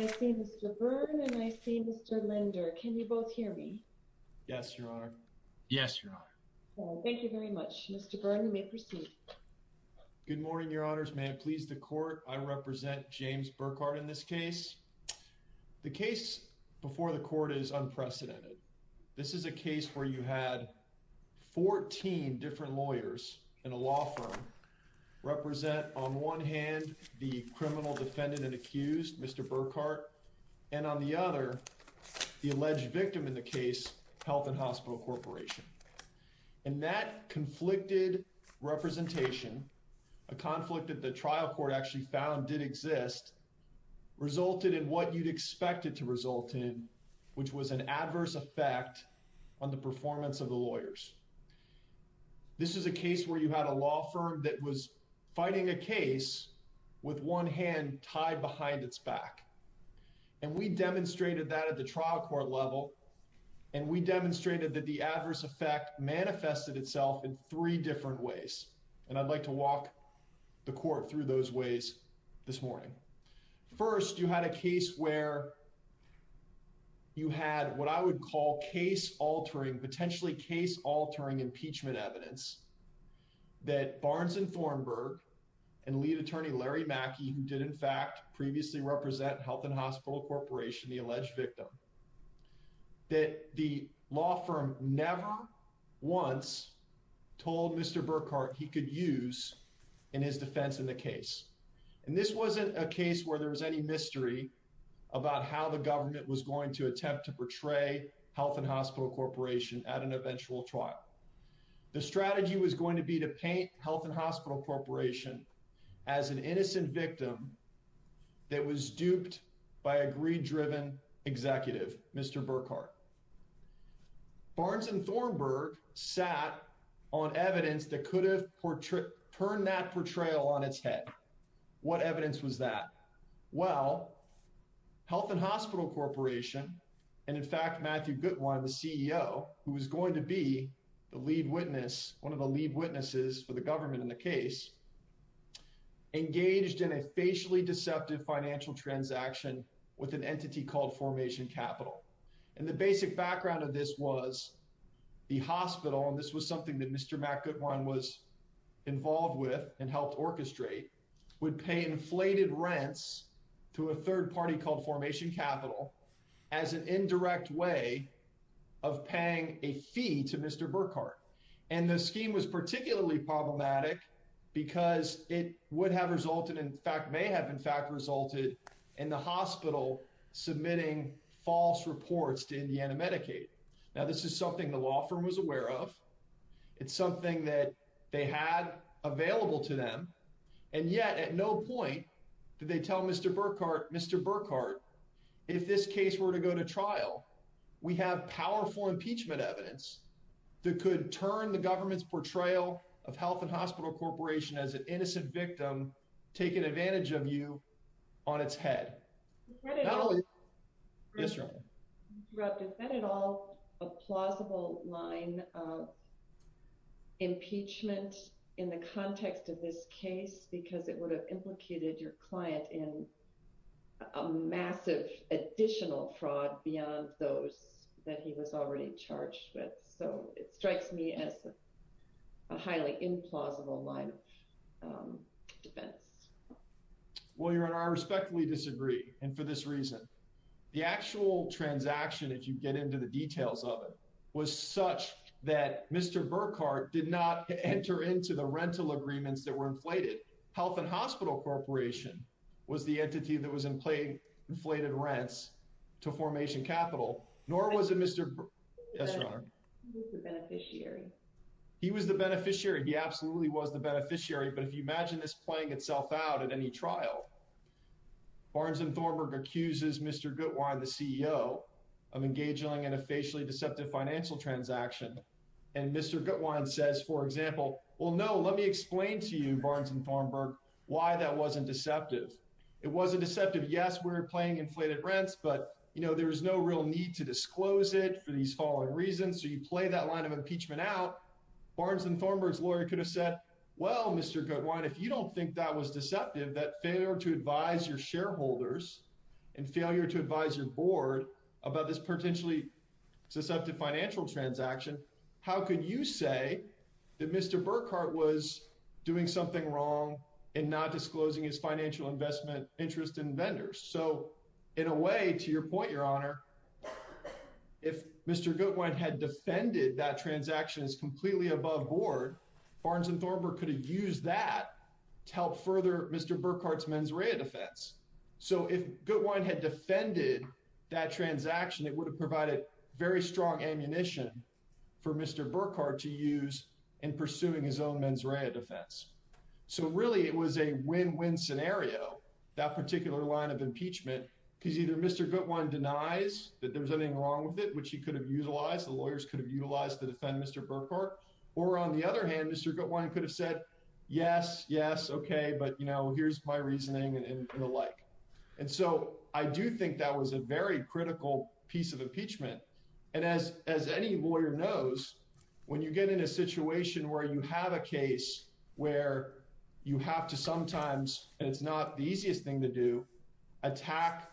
I see Mr. Byrne and I see Mr. Linder. Can you both hear me? Yes, Your Honor. Yes, Your Honor. Thank you very much. Mr. Byrne, you may proceed. Good morning, Your Honors. May it please the court, I represent James Burkhart in this case. The case before the court is unprecedented. This is a case where you had 14 different lawyers in a law firm represent, on one hand, the criminal defendant and accused, Mr. Burkhart, and on the other, the alleged victim in the case, Health and Hospital Corporation. And that conflicted representation, a conflict that the trial court actually found did exist, resulted in what you'd expected to result in, which was an adverse effect on the performance of the lawyers. This is a case where you had a law firm that was fighting a case with one hand tied behind its back. And we demonstrated that at the trial court level, and we demonstrated that the adverse effect manifested itself in three different ways. And I'd like to walk the court through those ways this morning. First, you had a case where you had what I would call case-altering, potentially case-altering impeachment evidence, that Barnes and Thornburg and lead attorney Larry Mackey, who did in fact previously represent Health and Hospital Corporation, the alleged victim, that the law firm never once told Mr. Burkhart he could use in his defense in the case. And this wasn't a case where there was any mystery about how the government was going to attempt to portray Health and Hospital Corporation at an eventual trial. The strategy was going to be to paint Health and Hospital Corporation as an innocent victim that was duped by a greed-driven executive, Mr. Burkhart. Barnes and Thornburg sat on evidence that could have turned that portrayal on its head. What evidence was that? Well, Health and Hospital Corporation, and in fact Matthew Goodwine, the CEO, who was going to be the lead witness, one of the lead witnesses for the government in the case, engaged in a facially deceptive financial transaction with an entity called Formation Capital. And the basic background of this was the hospital, and this was something that Mr. Matt Goodwine was involved with and helped orchestrate, would pay inflated rents to a third party called Formation Capital as an indirect way of paying a fee to Mr. Burkhart. And the scheme was particularly problematic because it would have resulted, in fact may have in fact resulted, in the hospital submitting false reports to Indiana Medicaid. Now this is something the law firm was aware of. It's something that they had available to them. And yet at no point did they tell Mr. Burkhart, Mr. Burkhart, if this case were to go to trial, we have powerful impeachment evidence that could turn the government's portrayal of Health and Hospital Corporation as an innocent victim taking advantage of you on its head. Is that at all a plausible line of impeachment in the context of this case because it would have implicated your client in a massive additional fraud beyond those that he was already charged with? So it strikes me as a highly implausible line of defense. Well, Your Honor, I respectfully disagree. And for this reason, the actual transaction, if you get into the details of it, was such that Mr. Burkhart did not enter into the rental agreements that were inflated. Health and Hospital Corporation was the entity that was inflated rents to Formation Capital, nor was it Mr. Yes, Your Honor. He was the beneficiary. He was the beneficiary. He absolutely was the beneficiary. But if you imagine this playing itself out at any trial, Barnes and Thornburg accuses Mr. Gutwein, the CEO of engaging in a facially deceptive financial transaction. And Mr. Gutwein says, for example, well, no, let me explain to you, Barnes and Thornburg, why that wasn't deceptive. It wasn't deceptive. Yes, we're playing inflated rents, but, you know, there is no real need to disclose it for these following reasons. So you play that line of impeachment out. Barnes and Thornburg's lawyer could have said, well, Mr. Gutwein, if you don't think that was deceptive, that failure to advise your shareholders and failure to advise your board about this potentially deceptive financial transaction, how could you say that Mr. Burkhart was doing something wrong and not disclosing his financial investment interest in vendors? So in a way, to your point, Your Honor, if Mr. Gutwein had defended that transaction as completely above board, Barnes and Thornburg could have used that to help further Mr. Burkhart's mens rea defense. So if Gutwein had defended that transaction, it would have provided very strong ammunition for Mr. Burkhart to use in pursuing his own mens rea defense. So really, it was a win-win scenario, that particular line of impeachment, because either Mr. Gutwein denies that there was anything wrong with it, which he could have utilized, the lawyers could have utilized to defend Mr. Burkhart. Or on the other hand, Mr. Gutwein could have said, yes, yes, okay, but you know, here's my reasoning and the like. And so I do think that was a very critical piece of impeachment. And as any lawyer knows, when you get in a situation where you have a case where you have to sometimes, and it's not the easiest thing to do, attack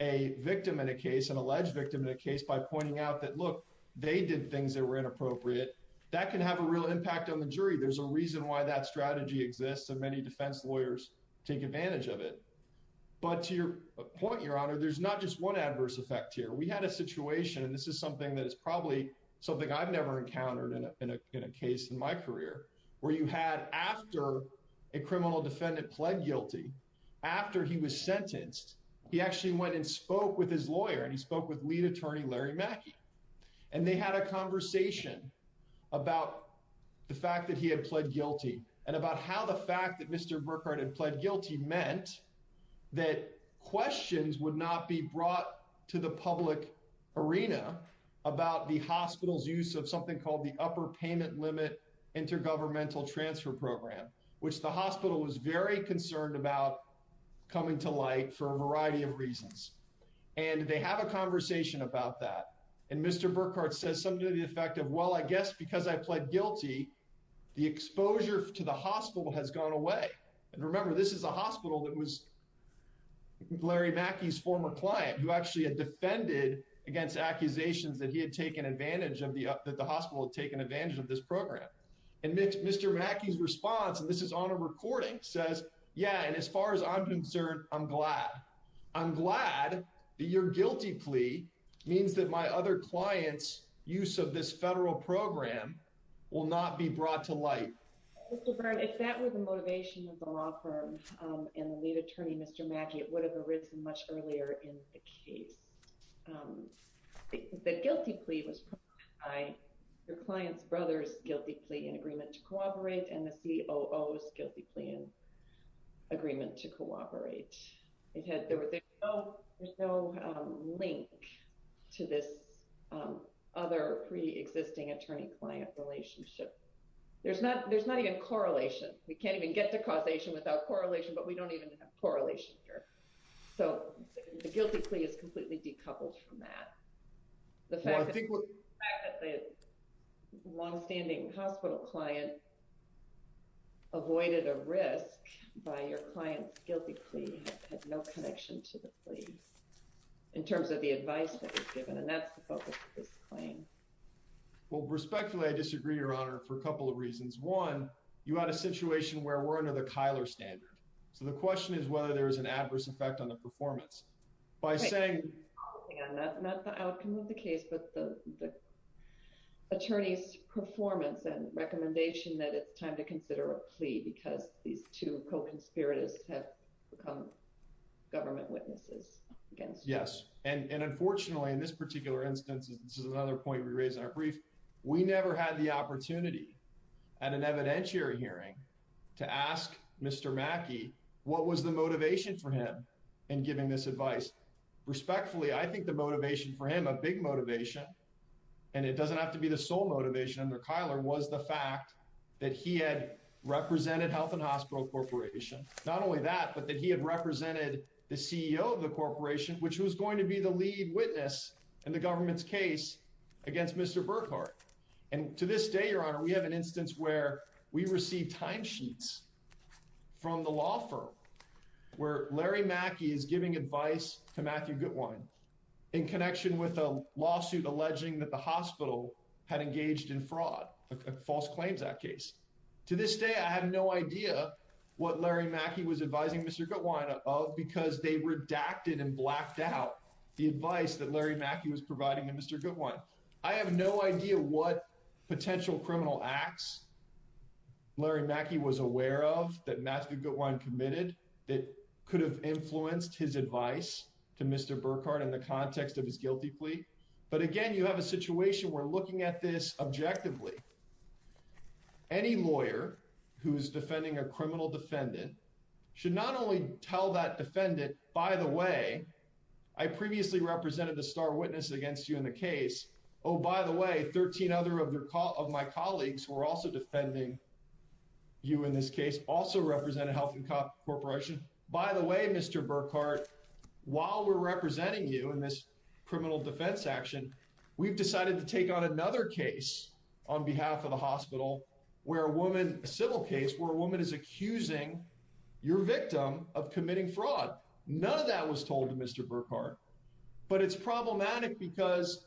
a victim in a case, an alleged victim in a case by pointing out that, look, they did things that were inappropriate, that can have a real impact on the jury. There's a reason why that strategy exists, and many defense lawyers take advantage of it. But to your point, Your Honor, there's not just one adverse effect here. We had a situation, and this is something that is probably something I've never encountered in a case in my career, where you had, after a criminal defendant pled guilty, after he was sentenced, he actually went and spoke with his lawyer, and he spoke with lead attorney Larry Mackey. And they had a conversation about the fact that he had pled guilty, and about how the fact that Mr. Burkhart had pled guilty meant that questions would not be brought to the public arena about the hospital's use of something called the Upper Payment Limit Intergovernmental Transfer Program, which the hospital was very concerned about coming to light for a variety of reasons. And they have a conversation about that, and Mr. Burkhart says something to the effect of, well, I guess because I pled guilty, the exposure to the hospital has gone away. And remember, this is a hospital that was Larry Mackey's former client, who actually had defended against accusations that the hospital had taken advantage of this program. And Mr. Mackey's response, and this is on a recording, says, yeah, and as far as I'm concerned, I'm glad. I'm glad that your guilty plea means that my other client's use of this federal program will not be brought to light. If that were the motivation of the law firm and the lead attorney, Mr. Mackey, it would have arisen much earlier in the case. The guilty plea was by your client's brother's guilty plea in agreement to cooperate and the COO's guilty plea in agreement to cooperate. There's no link to this other pre-existing attorney-client relationship. There's not even correlation. We can't even get to causation without correlation, but we don't even have correlation here. So the guilty plea is completely decoupled from that. The fact that the longstanding hospital client avoided a risk by your client's guilty plea had no connection to the plea in terms of the advice that was given, and that's the focus of this claim. Well, respectfully, I disagree, Your Honor, for a couple of reasons. One, you had a situation where we're under the Kyler standard. So the question is whether there is an adverse effect on the performance. By saying... Not the outcome of the case, but the attorney's performance and recommendation that it's time to consider a plea because these two co-conspirators have become government witnesses. Yes, and unfortunately in this particular instance, this is another point we raised in our brief, we never had the opportunity at an evidentiary hearing to ask Mr. Mackey what was the motivation for him in giving this advice. Respectfully, I think the motivation for him, a big motivation, and it doesn't have to be the sole motivation under Kyler, was the fact that he had represented Health and Hospital Corporation. Not only that, but that he had represented the CEO of the corporation, which was going to be the lead witness in the government's case against Mr. Burkhardt. And to this day, Your Honor, we have an instance where we received timesheets from the law firm where Larry Mackey is giving advice to Matthew Gutwein in connection with a lawsuit alleging that the hospital had engaged in fraud, a False Claims Act case. To this day, I have no idea what Larry Mackey was advising Mr. Gutwein of because they redacted and blacked out the advice that Larry Mackey was providing to Mr. Gutwein. I have no idea what potential criminal acts Larry Mackey was aware of that Matthew Gutwein committed that could have influenced his advice to Mr. Burkhardt in the context of his guilty plea. But again, you have a situation where looking at this objectively, any lawyer who's defending a criminal defendant should not only tell that defendant, by the way, I previously represented a star witness against you in the case. Oh, by the way, 13 other of my colleagues who are also defending you in this case also represent a health corporation. By the way, Mr. Burkhardt, while we're representing you in this criminal defense action, we've decided to take on another case on behalf of the hospital where a woman, a civil case where a woman is accusing your victim of committing fraud. None of that was told to Mr. Burkhardt. But it's problematic because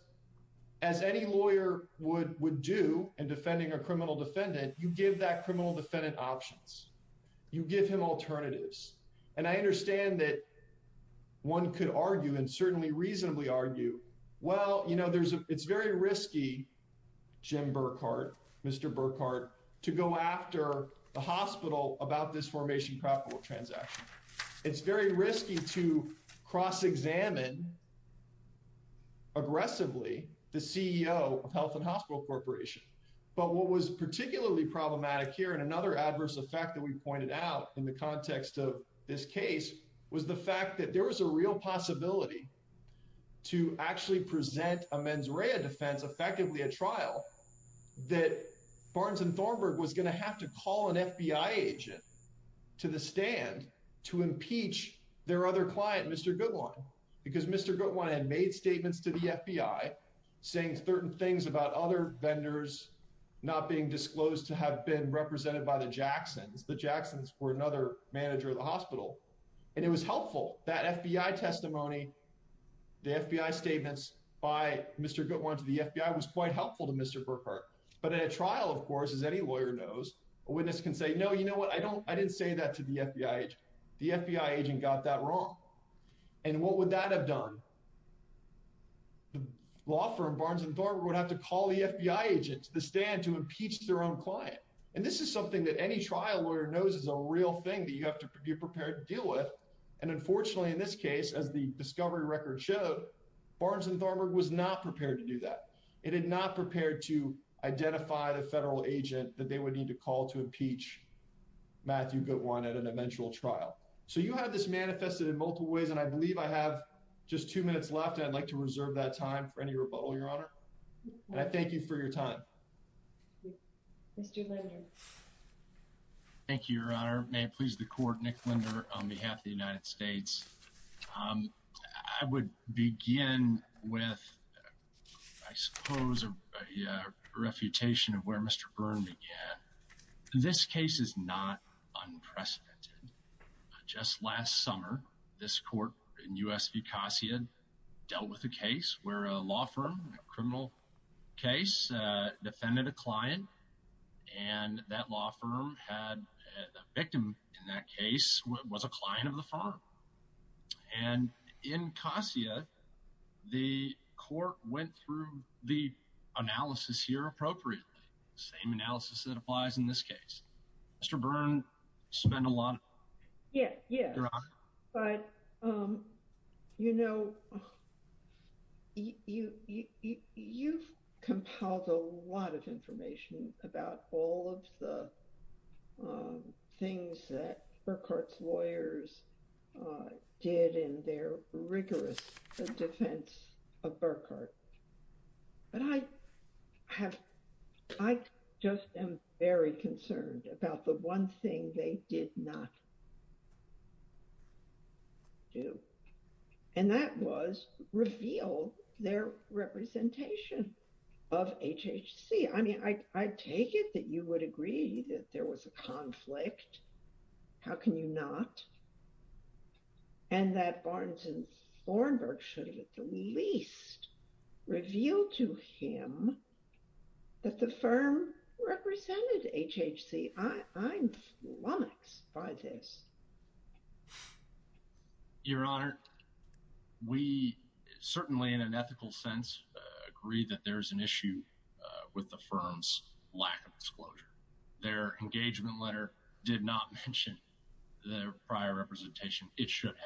as any lawyer would do in defending a criminal defendant, you give that criminal defendant options. You give him alternatives. And I understand that one could argue and certainly reasonably argue, well, you know, it's very risky, Jim Burkhardt, Mr. Burkhardt, to go after the hospital about this formation capital transaction. It's very risky to cross-examine aggressively the CEO of Health and Hospital Corporation. But what was particularly problematic here and another adverse effect that we pointed out in the context of this case was the fact that there was a real possibility to actually present a mens rea defense, effectively a trial, that Barnes and Thornburg was going to have to call an FBI agent to the stand to impeach their other client, Mr. Goodwin. Because Mr. Goodwin had made statements to the FBI saying certain things about other vendors not being disclosed to have been represented by the Jacksons. The Jacksons were another manager of the hospital. And it was helpful that FBI testimony, the FBI statements by Mr. Goodwin to the FBI was quite helpful to Mr. Burkhardt. But at a trial, of course, as any lawyer knows, a witness can say, no, you know what, I didn't say that to the FBI agent. The FBI agent got that wrong. And what would that have done? The law firm, Barnes and Thornburg, would have to call the FBI agent to the stand to impeach their own client. And this is something that any trial lawyer knows is a real thing that you have to be prepared to deal with. And unfortunately, in this case, as the discovery record showed, Barnes and Thornburg was not prepared to do that. It had not prepared to identify the federal agent that they would need to call to impeach Matthew Goodwin at an eventual trial. So you have this manifested in multiple ways. And I believe I have just two minutes left. I'd like to reserve that time for any rebuttal, Your Honor. And I thank you for your time. Mr. Linder. Thank you, Your Honor. May it please the court, Nick Linder on behalf of the United States. I would begin with, I suppose, a refutation of where Mr. Byrne began. This case is not unprecedented. Just last summer, this court in U.S. v. Cossia dealt with a case where a law firm, a criminal case, defended a client. And that law firm had a victim in that case was a client of the firm. And in Cossia, the court went through the analysis here appropriately. Same analysis that applies in this case. Mr. Byrne spent a lot of time. But, you know, you've compiled a lot of information about all of the things that Burkhart's lawyers did in their rigorous defense of Burkhart. But I have, I just am very concerned about the one thing they did not do. And that was reveal their representation of HHC. I mean, I take it that you would agree that there was a conflict. How can you not? And that Barnes and Thornburg should have at the least revealed to him that the firm represented HHC. I'm flummoxed by this. Your Honor, we certainly in an ethical sense agree that there is an issue with the firm's lack of disclosure. Their engagement letter did not mention their prior representation. It should have.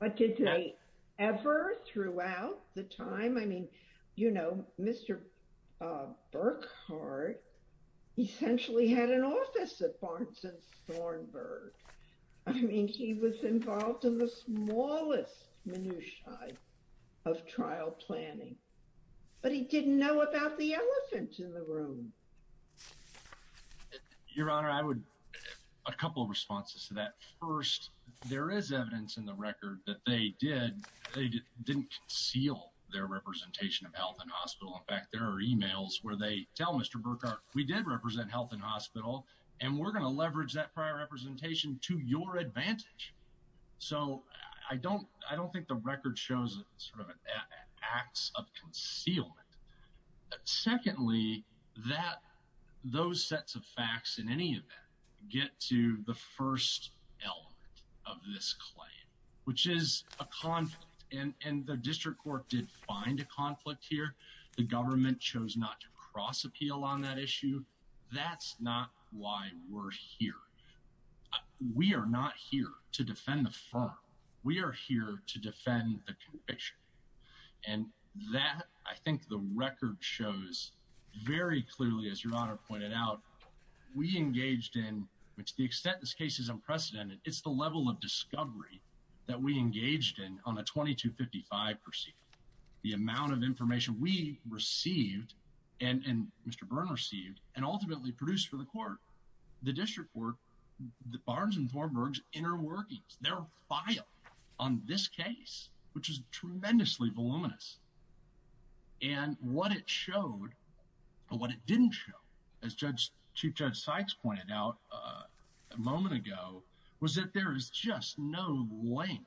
But did they ever throughout the time? I mean, you know, Mr. Burkhart essentially had an office at Barnes and Thornburg. I mean, he was involved in the smallest minutiae of trial planning, but he didn't know about the elephant in the room. Your Honor, I would a couple of responses to that. First, there is evidence in the record that they did. They didn't conceal their representation of health and hospital. In fact, there are emails where they tell Mr. Burkhart, we did represent health and hospital, and we're going to leverage that prior representation to your advantage. So I don't I don't think the record shows sort of acts of concealment. Secondly, that those sets of facts in any event get to the first element of this claim, which is a conflict. And the district court did find a conflict here. The government chose not to cross appeal on that issue. That's not why we're here. We are not here to defend the firm. We are here to defend the conviction. And that I think the record shows very clearly, as your Honor pointed out, we engaged in, to the extent this case is unprecedented, it's the level of discovery that we engaged in on a 2255 proceeding. The amount of information we received and Mr. Byrne received and ultimately produced for the court. The district court, Barnes and Thornburg's inner workings, their file on this case, which is tremendously voluminous. And what it showed, or what it didn't show, as Chief Judge Sykes pointed out a moment ago, was that there is just no link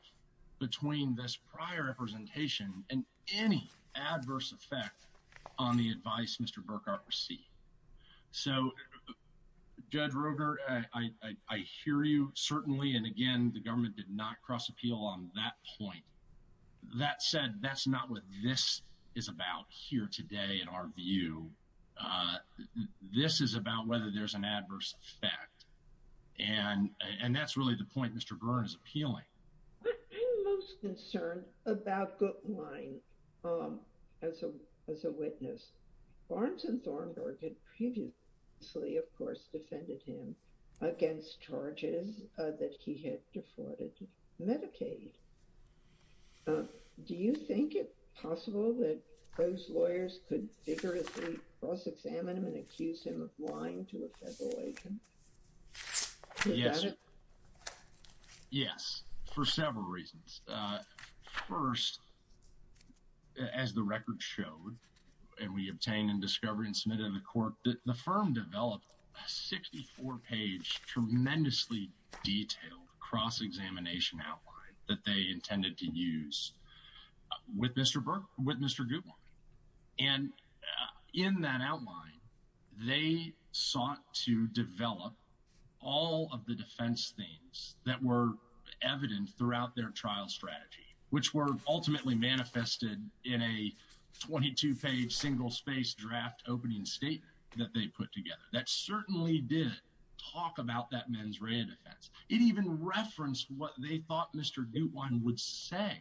between this prior representation and any adverse effect on the advice Mr. Burkhart received. So Judge Roger, I hear you certainly. And again, the government did not cross appeal on that point. That said, that's not what this is about here today in our view. This is about whether there's an adverse effect. And that's really the point Mr. Byrne is appealing. I'm most concerned about Guttwein as a witness. Barnes and Thornburg had previously, of course, defended him against charges that he had defrauded Medicaid. Do you think it possible that those lawyers could vigorously cross-examine him and accuse him of lying to a federal agent? Yes, for several reasons. First, as the record showed, and we obtained and discovered and submitted to the court, the firm developed a 64-page, tremendously detailed cross-examination outline that they intended to use with Mr. Guttwein. And in that outline, they sought to develop all of the defense themes that were evident throughout their trial strategy, which were ultimately manifested in a 22-page, single-space draft opening statement that they put together. That certainly did talk about that mens rea defense. It even referenced what they thought Mr. Guttwein would say.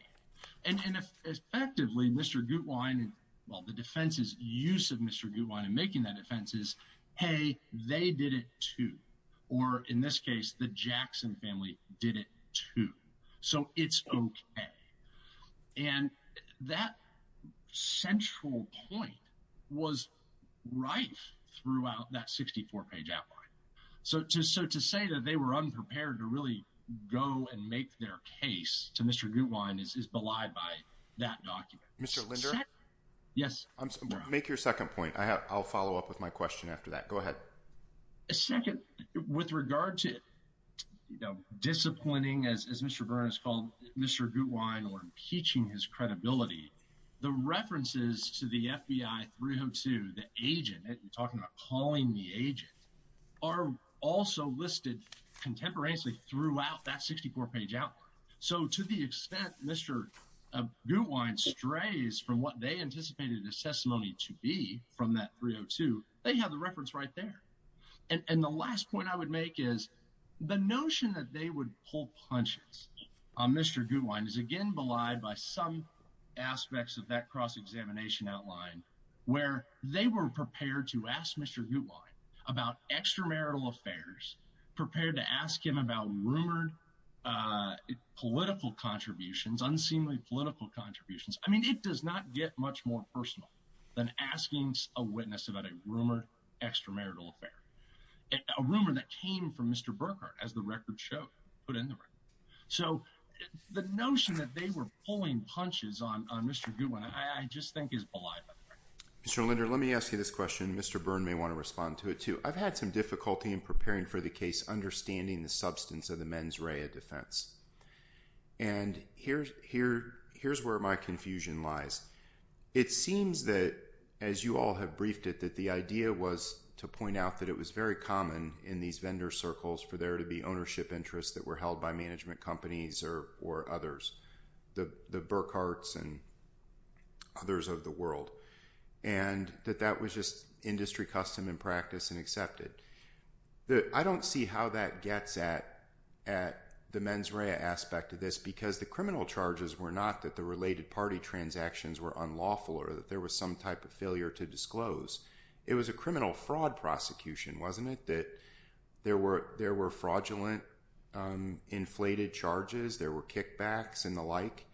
And effectively, Mr. Guttwein, well, the defense's use of Mr. Guttwein in making that defense is, hey, they did it too. Or in this case, the Jackson family did it too. So it's okay. And that central point was rife throughout that 64-page outline. So to say that they were unprepared to really go and make their case to Mr. Guttwein is belied by that document. Mr. Linder? Yes. Make your second point. I'll follow up with my question after that. Go ahead. Second, with regard to, you know, disciplining, as Mr. Burns called Mr. Guttwein, or impeaching his credibility, the references to the FBI 302, the agent, you're talking about calling the agent, are also listed contemporaneously throughout that 64-page outline. So to the extent Mr. Guttwein strays from what they anticipated his testimony to be from that 302, they have the reference right there. And the last point I would make is the notion that they would pull punches on Mr. Guttwein is, again, belied by some aspects of that cross-examination outline where they were prepared to ask Mr. Guttwein about extramarital affairs, prepared to ask him about rumored political contributions, unseemly political contributions. I mean, it does not get much more personal than asking a witness about a rumored extramarital affair, a rumor that came from Mr. Burkhardt, as the record showed, put in the record. So the notion that they were pulling punches on Mr. Guttwein, I just think, is belied by the record. Mr. Linder, let me ask you this question. Mr. Burns may want to respond to it, too. I've had some difficulty in preparing for the case understanding the substance of the mens rea defense. And here's where my confusion lies. It seems that, as you all have briefed it, that the idea was to point out that it was very common in these vendor circles for there to be ownership interests that were held by management companies or others, the Burkharts and others of the world. And that that was just industry custom and practice and accepted. I don't see how that gets at the mens rea aspect of this, because the criminal charges were not that the related party transactions were unlawful or that there was some type of failure to disclose. It was a criminal fraud prosecution, wasn't it? That there were fraudulent inflated charges, there were kickbacks and the like.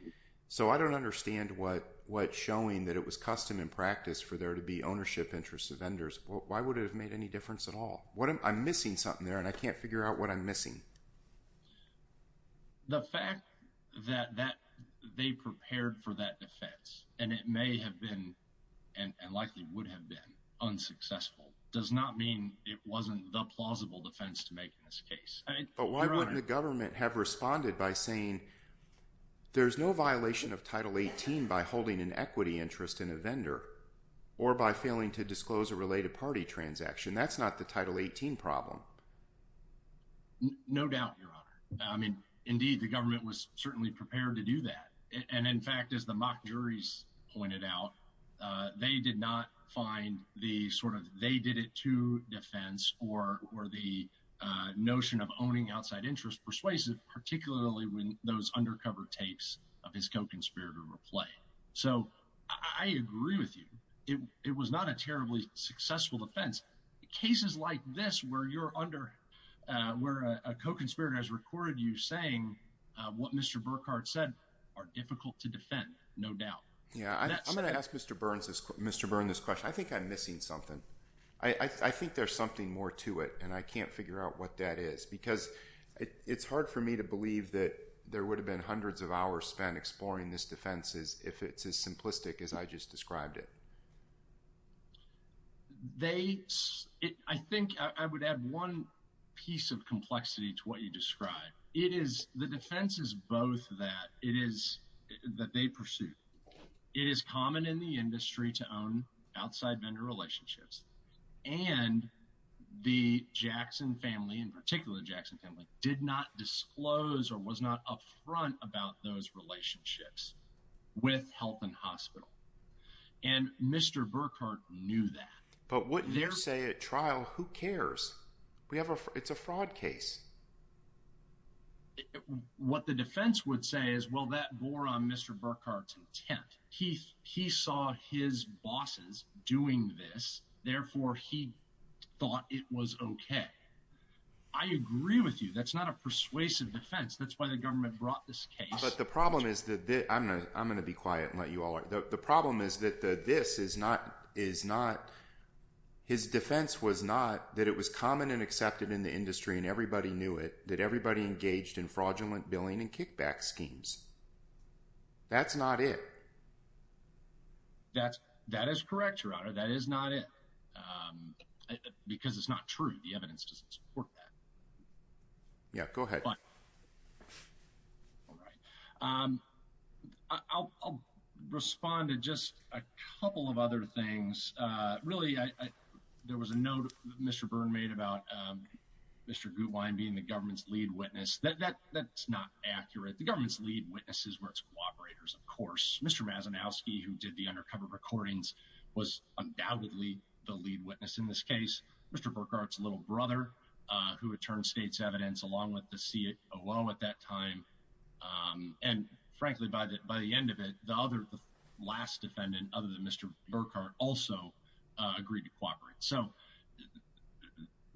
So I don't understand what showing that it was custom and practice for there to be ownership interests of vendors. Why would it have made any difference at all? I'm missing something there, and I can't figure out what I'm missing. The fact that they prepared for that defense, and it may have been and likely would have been unsuccessful, does not mean it wasn't the plausible defense to make in this case. But why wouldn't the government have responded by saying there's no violation of Title 18 by holding an equity interest in a vendor or by failing to disclose a related party transaction? That's not the Title 18 problem. Indeed, the government was certainly prepared to do that. And in fact, as the mock juries pointed out, they did not find the sort of they did it to defense or the notion of owning outside interest persuasive, particularly when those undercover tapes of his co-conspirator replay. So I agree with you. It was not a terribly successful defense. Cases like this where a co-conspirator has recorded you saying what Mr. Burkhardt said are difficult to defend, no doubt. Yeah, I'm going to ask Mr. Burns this question. I think I'm missing something. I think there's something more to it, and I can't figure out what that is because it's hard for me to believe that there would have been hundreds of hours spent exploring this defense if it's as simplistic as I just described it. They I think I would add one piece of complexity to what you describe. It is the defense is both that it is that they pursue. It is common in the industry to own outside vendor relationships. And the Jackson family, in particular, Jackson family, did not disclose or was not up front about those relationships with health and hospital. And Mr. Burkhardt knew that. But what they say at trial, who cares? We have a it's a fraud case. What the defense would say is, well, that bore on Mr. Burkhardt's intent. He he saw his bosses doing this. Therefore, he thought it was OK. I agree with you. That's not a persuasive defense. That's why the government brought this case. But the problem is that I'm going to be quiet and let you are. The problem is that this is not is not. His defense was not that it was common and accepted in the industry and everybody knew it, that everybody engaged in fraudulent billing and kickback schemes. That's not it. That's that is correct, your honor. That is not it, because it's not true. The evidence doesn't support that. Yeah, go ahead. All right. I'll respond to just a couple of other things. Really, there was a note Mr. Byrne made about Mr. Gutwein being the government's lead witness. That's not accurate. The government's lead witnesses were its cooperators. Of course, Mr. Mazinowski, who did the undercover recordings, was undoubtedly the lead witness in this case. Mr. Burkhardt's little brother, who had turned state's evidence along with the CIO at that time. And frankly, by the by the end of it, the other the last defendant, other than Mr. Burkhardt, also agreed to cooperate. So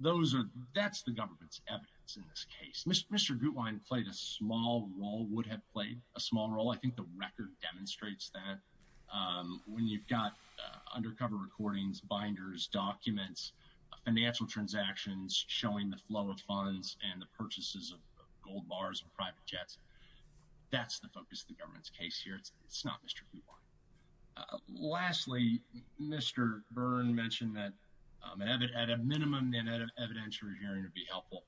those are that's the government's evidence in this case. Mr. Gutwein played a small role, would have played a small role. I think the record demonstrates that. When you've got undercover recordings, binders, documents, financial transactions, showing the flow of funds and the purchases of gold bars and private jets, that's the focus of the government's case here. It's not Mr. Gutwein. Lastly, Mr. Byrne mentioned that at a minimum, an evidentiary hearing would be helpful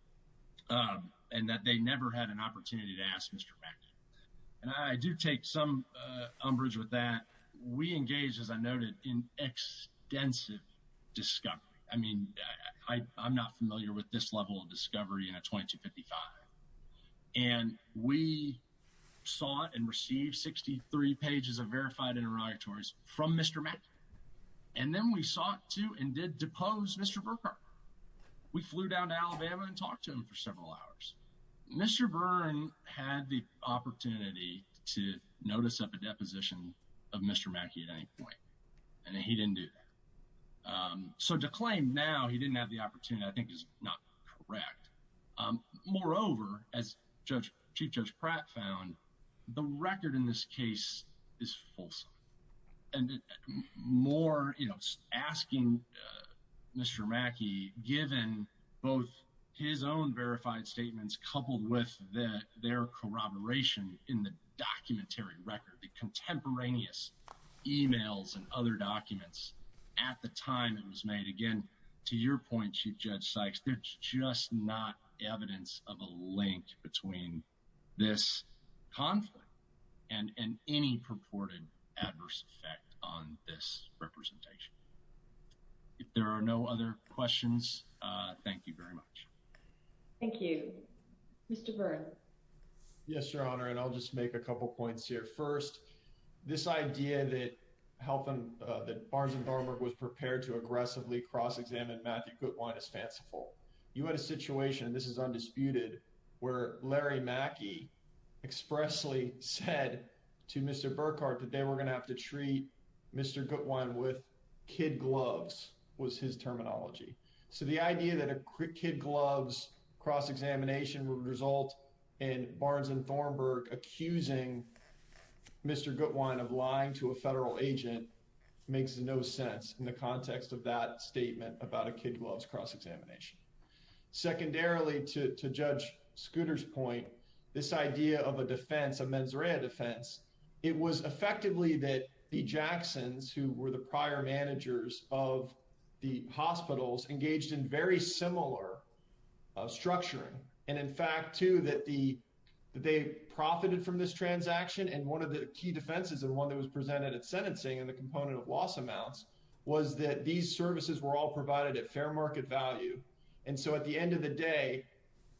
and that they never had an opportunity to ask Mr. Mazinowski. And I do take some umbrage with that. We engage, as I noted, in extensive discovery. I mean, I'm not familiar with this level of discovery in a 2255. And we sought and received 63 pages of verified interrogatories from Mr. Mazinowski. And then we sought to and did depose Mr. Burkhardt. We flew down to Alabama and talked to him for several hours. Mr. Byrne had the opportunity to notice up a deposition of Mr. Mackey at any point. And he didn't do that. So to claim now he didn't have the opportunity, I think, is not correct. Moreover, as Chief Judge Pratt found, the record in this case is fulsome. And more asking Mr. Mackey, given both his own verified statements coupled with their corroboration in the documentary record, the contemporaneous emails and other documents at the time it was made. Again, to your point, Chief Judge Sykes, there's just not evidence of a link between this conflict and any purported adverse effect on this representation. If there are no other questions, thank you very much. Thank you. Mr. Byrne. Yes, Your Honor. And I'll just make a couple of points here. First, this idea that Barnes and Thornburg was prepared to aggressively cross-examine Matthew Guttwein is fanciful. You had a situation, and this is undisputed, where Larry Mackey expressly said to Mr. Burkhart that they were going to have to treat Mr. Guttwein with kid gloves was his terminology. So the idea that a kid gloves cross-examination would result in Barnes and Thornburg accusing Mr. Guttwein of lying to a federal agent makes no sense in the context of that statement about a kid gloves cross-examination. Secondarily, to Judge Scooter's point, this idea of a defense, a mens rea defense, it was effectively that the Jacksons, who were the prior managers of the hospitals, engaged in very similar structuring. And in fact, too, that they profited from this transaction. And one of the key defenses, and one that was presented at sentencing in the component of loss amounts, was that these services were all provided at fair market value. And so at the end of the day,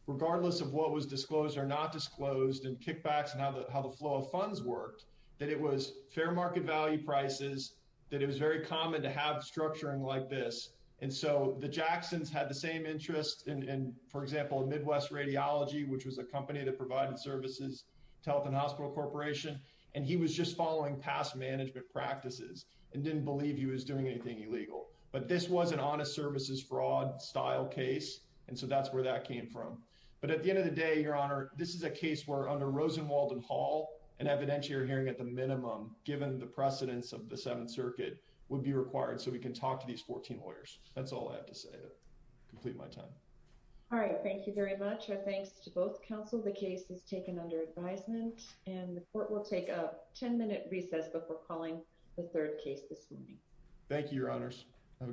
regardless of what was disclosed or not disclosed and kickbacks and how the flow of funds worked, that it was fair market value prices, that it was very common to have structuring like this. And so the Jacksons had the same interest in, for example, Midwest Radiology, which was a company that provided services to Health and Hospital Corporation, and he was just and didn't believe he was doing anything illegal. But this was an honest services fraud style case, and so that's where that came from. But at the end of the day, Your Honor, this is a case where under Rosenwald and Hall, an evidentiary hearing at the minimum, given the precedence of the Seventh Circuit, would be required so we can talk to these 14 lawyers. That's all I have to say to complete my time. All right. Thank you very much. Our thanks to both counsel. The case is taken under advisement, and the court will take a 10-minute recess before calling the third case this morning. Thank you, Your Honors. Have a good day.